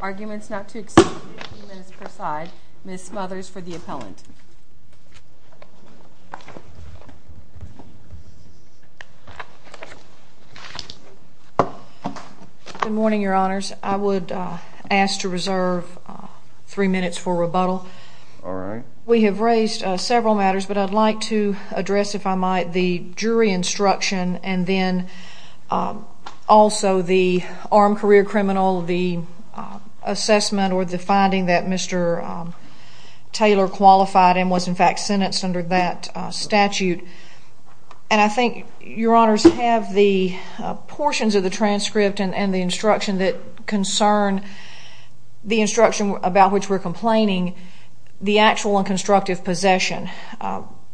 Arguments not to exceed 15 minutes per side. Ms. Smothers for the appellant. Good morning, your honors. I would ask to reserve three minutes for rebuttal. We have raised several matters, but I'd like to address, if I might, the jury instruction and then also the armed career criminal, the assessment or the finding that Mr. Taylor qualified and was in fact sentenced under that statute. And I think your honors have the portions of the transcript and the instruction that concern the instruction about which we're complaining, the actual and constructive possession.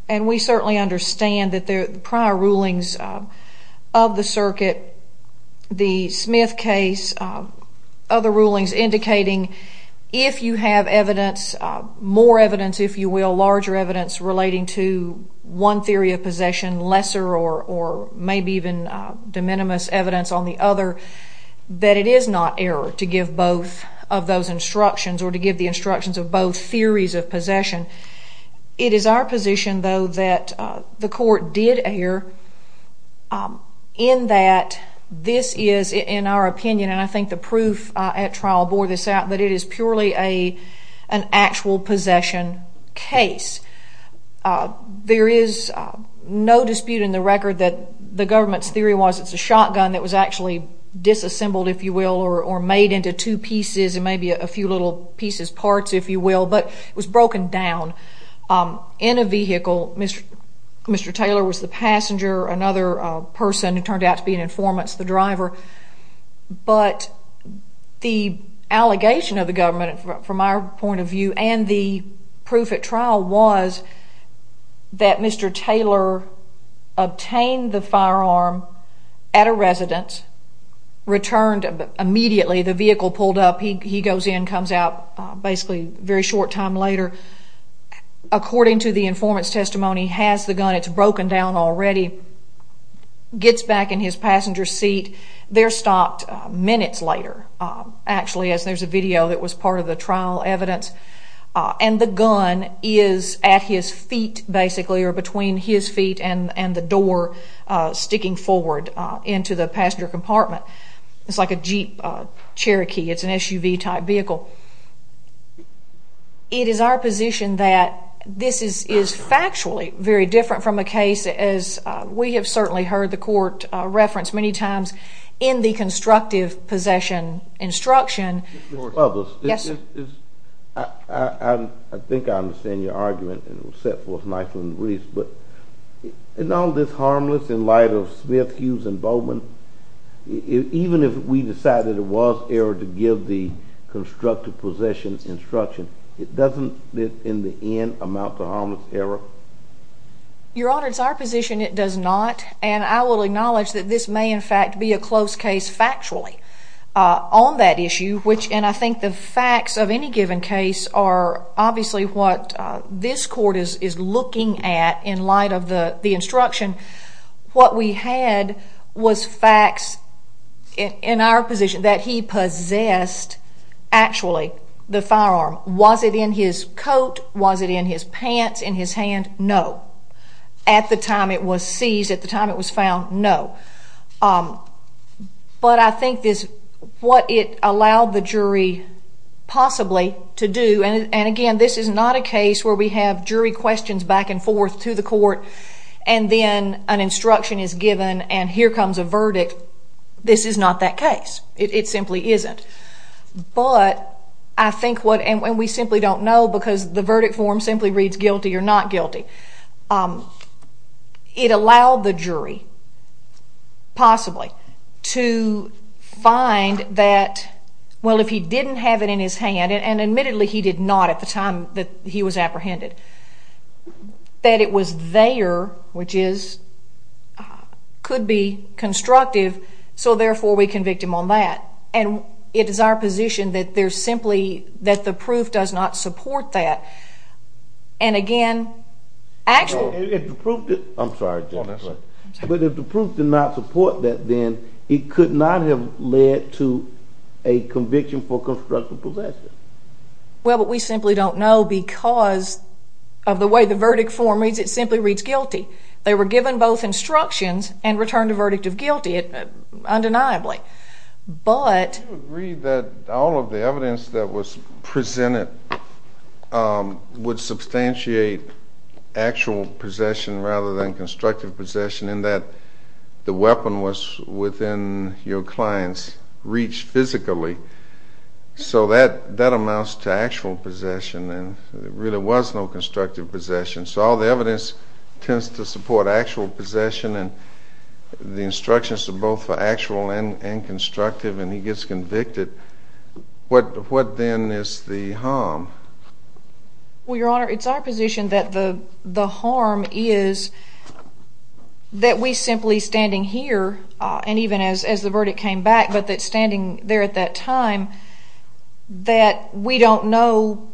And we certainly understand that the prior rulings of the circuit, the Smith case, other rulings indicating if you have evidence, more larger evidence relating to one theory of possession, lesser or maybe even de minimis evidence on the other, that it is not error to give both of those instructions or to give the instructions of both theories of possession. It is our position, though, that the court did err in that this is, in our opinion, and I think the proof at trial bore this out, that it is purely an actual possession case. There is no dispute in the record that the government's theory was it's a shotgun that was actually disassembled, if you will, or made into two pieces and maybe a few little pieces, parts, if you will, but it was broken down in a vehicle. Mr. Taylor was the passenger, another person who turned out to be an informant the driver, but the allegation of the government from our point of view and the proof at trial was that Mr. Taylor obtained the firearm at a residence, returned immediately, the vehicle pulled up, he goes in, comes out, basically a very short time later, according to the informant's testimony, has the gun, it's broken down already, gets back in his passenger's seat, they're stopped minutes later, actually, as there's a video that was part of the trial evidence, and the gun is at his feet, basically, or between his feet and the door sticking forward into the passenger compartment. It's like a Jeep Cherokee, it's an SUV-type vehicle. It is our position that this is factually very different from a case, as we have certainly heard the court reference many times, in the constructive possession instruction. Mr. Publis, I think I understand your argument, and it was set forth nicely in the briefs, but isn't all this harmless in light of Smith, Hughes, and Bowman? Even if we decided it was error to give the constructive possession instruction, it doesn't, in the end, amount to harmless error? Your Honor, it's our position it does not, and I will acknowledge that this may, in fact, be a close case factually on that issue, which, and I think the facts of any given case are obviously what this court is looking at in light of the instruction. What we had was facts in our position that he possessed, actually, the firearm. Was it in his coat? Was it in his pants, in his hand? No. At the time it was seized, at the time it was found, no. But I think what it allowed the jury, possibly, to do, and again, this is not a case where we have jury questions back and forth to the court, and then an instruction is given, and here comes a verdict. This is not that case. It simply isn't. But I think what, and we simply don't know because the verdict form simply reads guilty or not guilty. It allowed the jury, possibly, to find that, well, if he didn't have it in his hand, and admittedly he did not at the time that he was apprehended, that it was there, which is, could be constructive, so therefore we convict him on that. And it is our position that there's simply, that the proof does not support that. And again, actually, No, if the proof, I'm sorry, but if the proof did not support that, then it could not have led to a conviction for constructive possession. Well, but we simply don't know because of the way the verdict form reads, it simply reads guilty. They were given both instructions and returned a verdict of guilty, undeniably. But, Don't you agree that all of the evidence that was presented would substantiate actual possession rather than constructive possession, in that the weapon was within your client's reach physically. So that amounts to actual possession, and there really was no constructive possession. So all the evidence tends to support actual possession, and the instructions are both for actual and constructive, and he gets convicted. What then is the harm? Well, Your Honor, it's our position that the harm is that we simply standing here, and even as the verdict came back, but that standing there at that time, that we don't know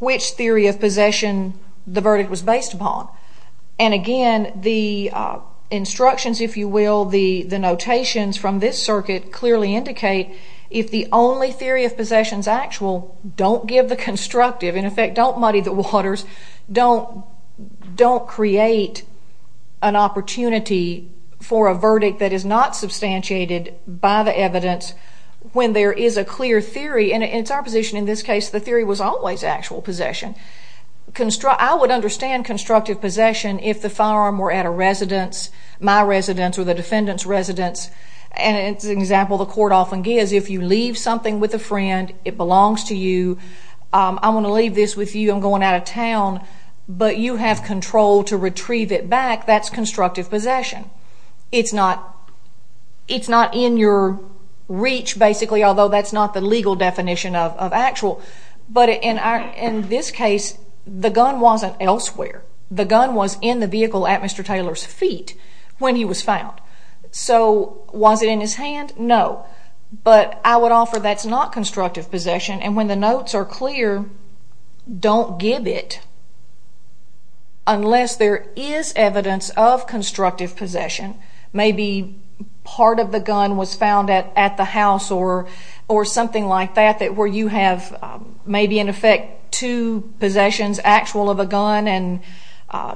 which theory of possession the verdict was based upon. And again, the instructions, if you will, the notations from this circuit clearly indicate if the only theory of possession is actual, don't give the constructive. In effect, don't muddy the waters. Don't create an opportunity for a verdict that is not substantiated by the evidence when there is a clear theory, and it's our position in this case, the theory was always actual possession. I would understand constructive possession if the firearm were at a residence, my residence or the defendant's residence, and it's an example the court often gives. If you leave something with a friend, it belongs to you, I'm going to leave this with you, I'm going out of town, but you have control to retrieve it back, that's constructive possession. It's not in your reach, basically, although that's not the legal definition of actual. But in this case, the gun wasn't elsewhere. The gun was in the vehicle at Mr. Taylor's feet when he was found. So, was it in his hand? No. But I would offer that's not constructive possession, and when the notes are clear, don't give it unless there is evidence of constructive possession. Maybe part of the gun was found at the house or something like that, where you have maybe in effect two possessions actual of a gun and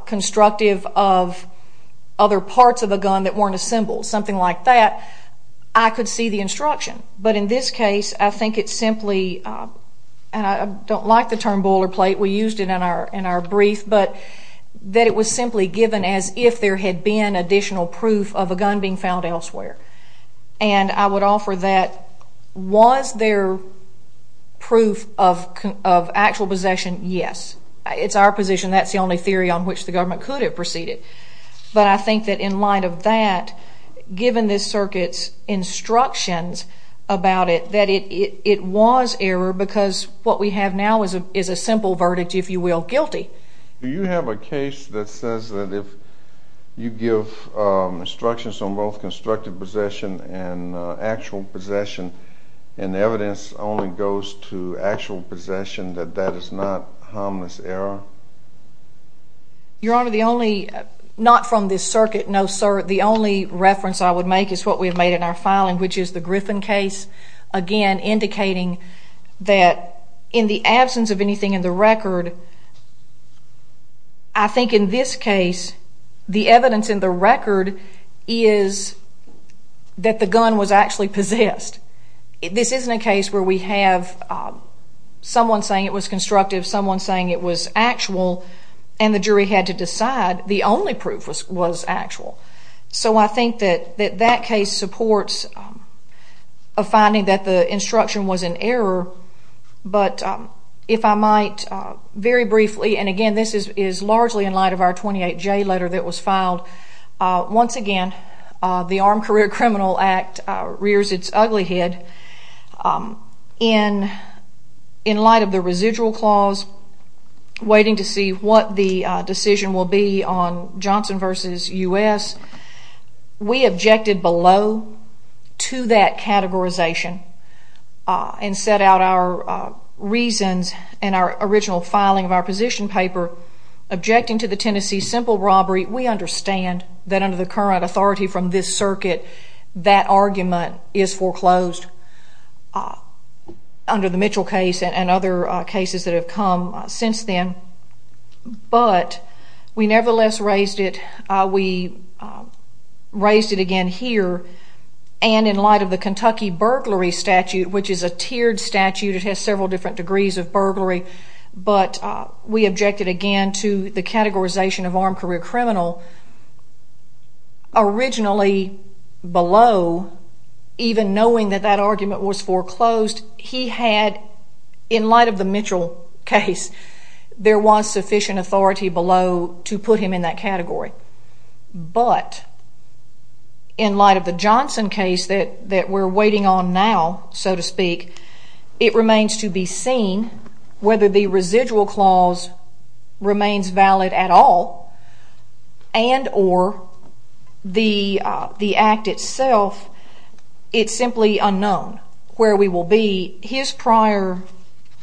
constructive of other parts of a gun that weren't assembled, something like that, I could see the instruction. But in this case, I think it's simply, and I don't like the term boilerplate, we used it in our brief, but that it was simply given as if there had been additional proof of a gun being found elsewhere. And I would offer that was there proof of actual possession? Yes. It's our position that's the only theory on which the government could have proceeded. But I think that in light of that, given this circuit's instructions about it, that it was error because what we have now is a simple verdict, if you will, guilty. Do you have a case that says that if you give instructions on both constructive possession and actual possession, and evidence only goes to actual possession, that that is not harmless error? Your Honor, the only, not from this circuit, no sir, the only reference I would make is what we have made in our filing, which is the Griffin case, again indicating that in the absence of anything in the record, I think in this case, the evidence in the that the gun was actually possessed. This isn't a case where we have someone saying it was constructive, someone saying it was actual, and the jury had to decide the only proof was actual. So I think that that case supports a finding that the instruction was an error, but if I might, very briefly, and again this is largely in light of our 28J letter that was filed, once again, the Armed Career Criminal Act rears its ugly head in light of the residual clause, waiting to see what the decision will be on Johnson v. U.S. We objected below to that categorization and set out our reasons in our original filing of our position paper, objecting to the Tennessee simple robbery. We understand that under the current authority from this circuit, that argument is foreclosed under the Mitchell case and other cases that have come since then, but we nevertheless raised it, we raised it again here, and in light of the Kentucky burglary statute, which is a tiered statute, it has several different degrees of burglary, but we objected again to the categorization of armed career criminal. Originally below, even knowing that that argument was foreclosed, he had, in light of the Mitchell case, there was sufficient authority below to put him in that category, but in light of the Johnson case that we're waiting on now, so to speak, it remains to be seen whether the residual clause remains valid at all and or the act itself, it's simply unknown where we will be. His prior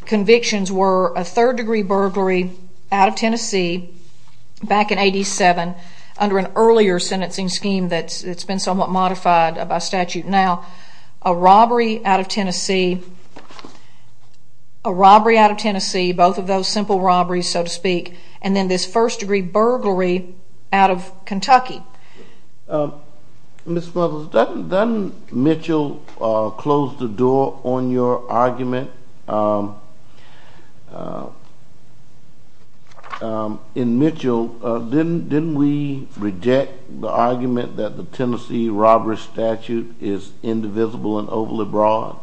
convictions were a third degree burglary out of Tennessee back in 87, under an earlier sentencing scheme that's been somewhat ratified by statute now, a robbery out of Tennessee, a robbery out of Tennessee, both of those simple robberies, so to speak, and then this first degree burglary out of Kentucky. Ms. Muggles, doesn't Mitchell close the door on your argument? In Mitchell, didn't we reject the argument that the Tennessee robbery statute is indivisible and overly broad?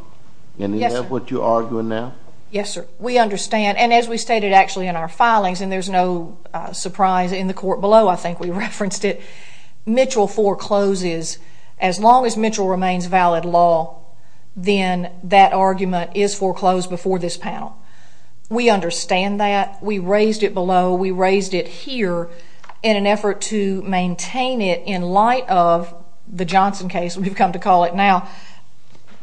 Yes, sir. Is that what you're arguing now? Yes, sir. We understand, and as we stated actually in our filings, and there's no surprise in the court below, I think we referenced it, Mitchell forecloses. As long as Mitchell remains valid law, then that argument is foreclosed before this panel. We understand that. We raised it below. We raised it here in an effort to maintain it in light of the Johnson case, we've come to call it now,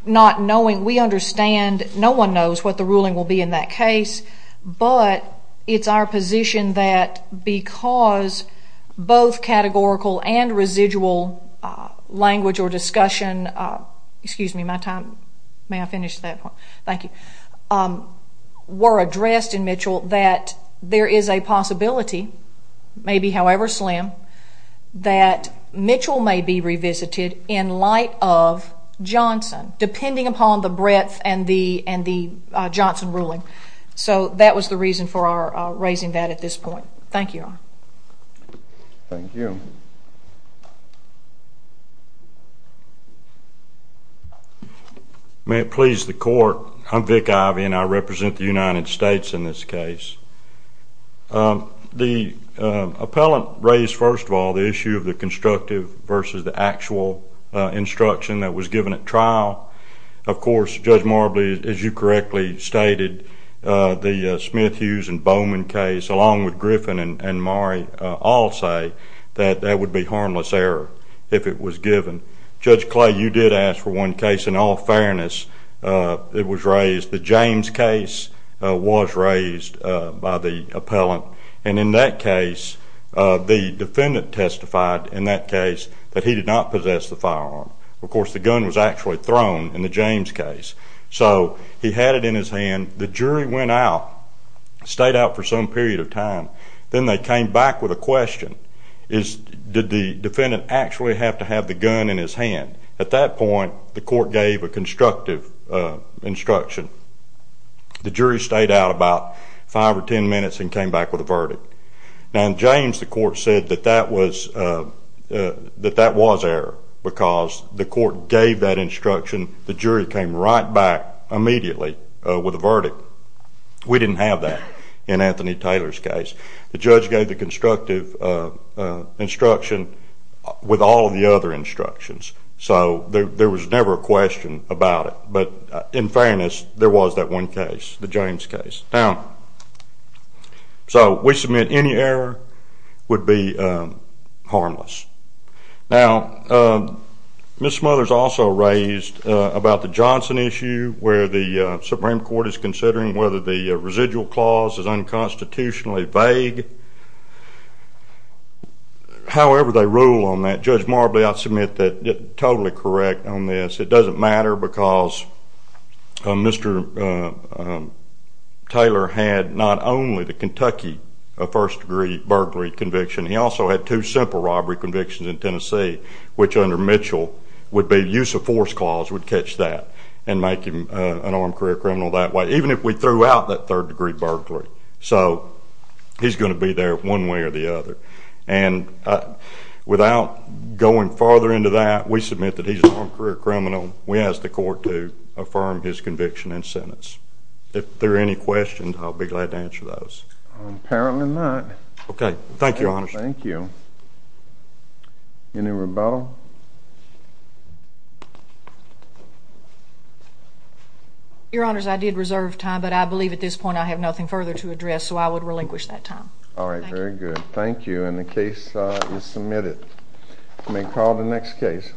not knowing, we understand, no one knows what the ruling will be in that case, but it's our position that because both categorical and residual language or discussion, excuse me, my time, may I finish that one? Thank you, were addressed in Mitchell that there is a possibility, maybe however slim, that Mitchell may be revisited in light of Johnson, depending upon the breadth and the Johnson ruling. So that was the reason for our raising that at this point. Thank you. Thank you. May it please the court, I'm Vic Ivey, and I represent the United States in this case. The appellant raised, first of all, the issue of the constructive versus the actual instruction that was given at trial. Of course, Judge Marbley, as you correctly stated, the Smith-Hughes and Bowman case, along with Griffin and Murray, all say that that would be harmless error if it was given. Judge Clay, you did ask for one case. In all fairness, it was raised. The James case was raised by the appellant, and in that case, the defendant testified in that case that he did not possess the firearm. Of course, the gun was actually thrown in the James case. So he had it in his hand. The jury went out, stayed out for some period of time. Then they came back with a question. Did the defendant actually have to have the gun in his hand? At that point, the court gave a constructive instruction. The jury stayed out about five or ten minutes and came back with a verdict. Now, in James, the court said that that was error because the court gave that instruction. The jury came right back immediately with a verdict. We didn't have that in Anthony Taylor's case. The judge gave the constructive instruction with all of the other instructions. So there was never a question about it. But in fairness, there was that one case, the James case. Now, so we submit any error would be harmless. Now, Ms. Smothers also raised about the Johnson issue where the Supreme Court is considering whether the residual clause is unconstitutionally vague. However they rule on that, Judge Marbley, I submit that you're totally correct on this. It doesn't matter because Mr. Taylor had not only the Kentucky first degree burglary conviction, he also had two simple robbery convictions in Tennessee, which under Mitchell would be use of force clause would catch that and make him an armed career criminal that way, even if we threw out that third degree burglary. So he's going to be there one way or the other. And without going further into that, we submit that he's an armed career criminal. We ask the court to affirm his conviction and sentence. If there are any questions, I'll be glad to answer those. Apparently not. Okay. Thank you, Your Honor. Thank you. Any rebuttal? Your Honor, I did reserve time, but I believe at this point I have nothing further to address, so I would relinquish that time. All right. Very good. Thank you. And the case is submitted. You may call the next case.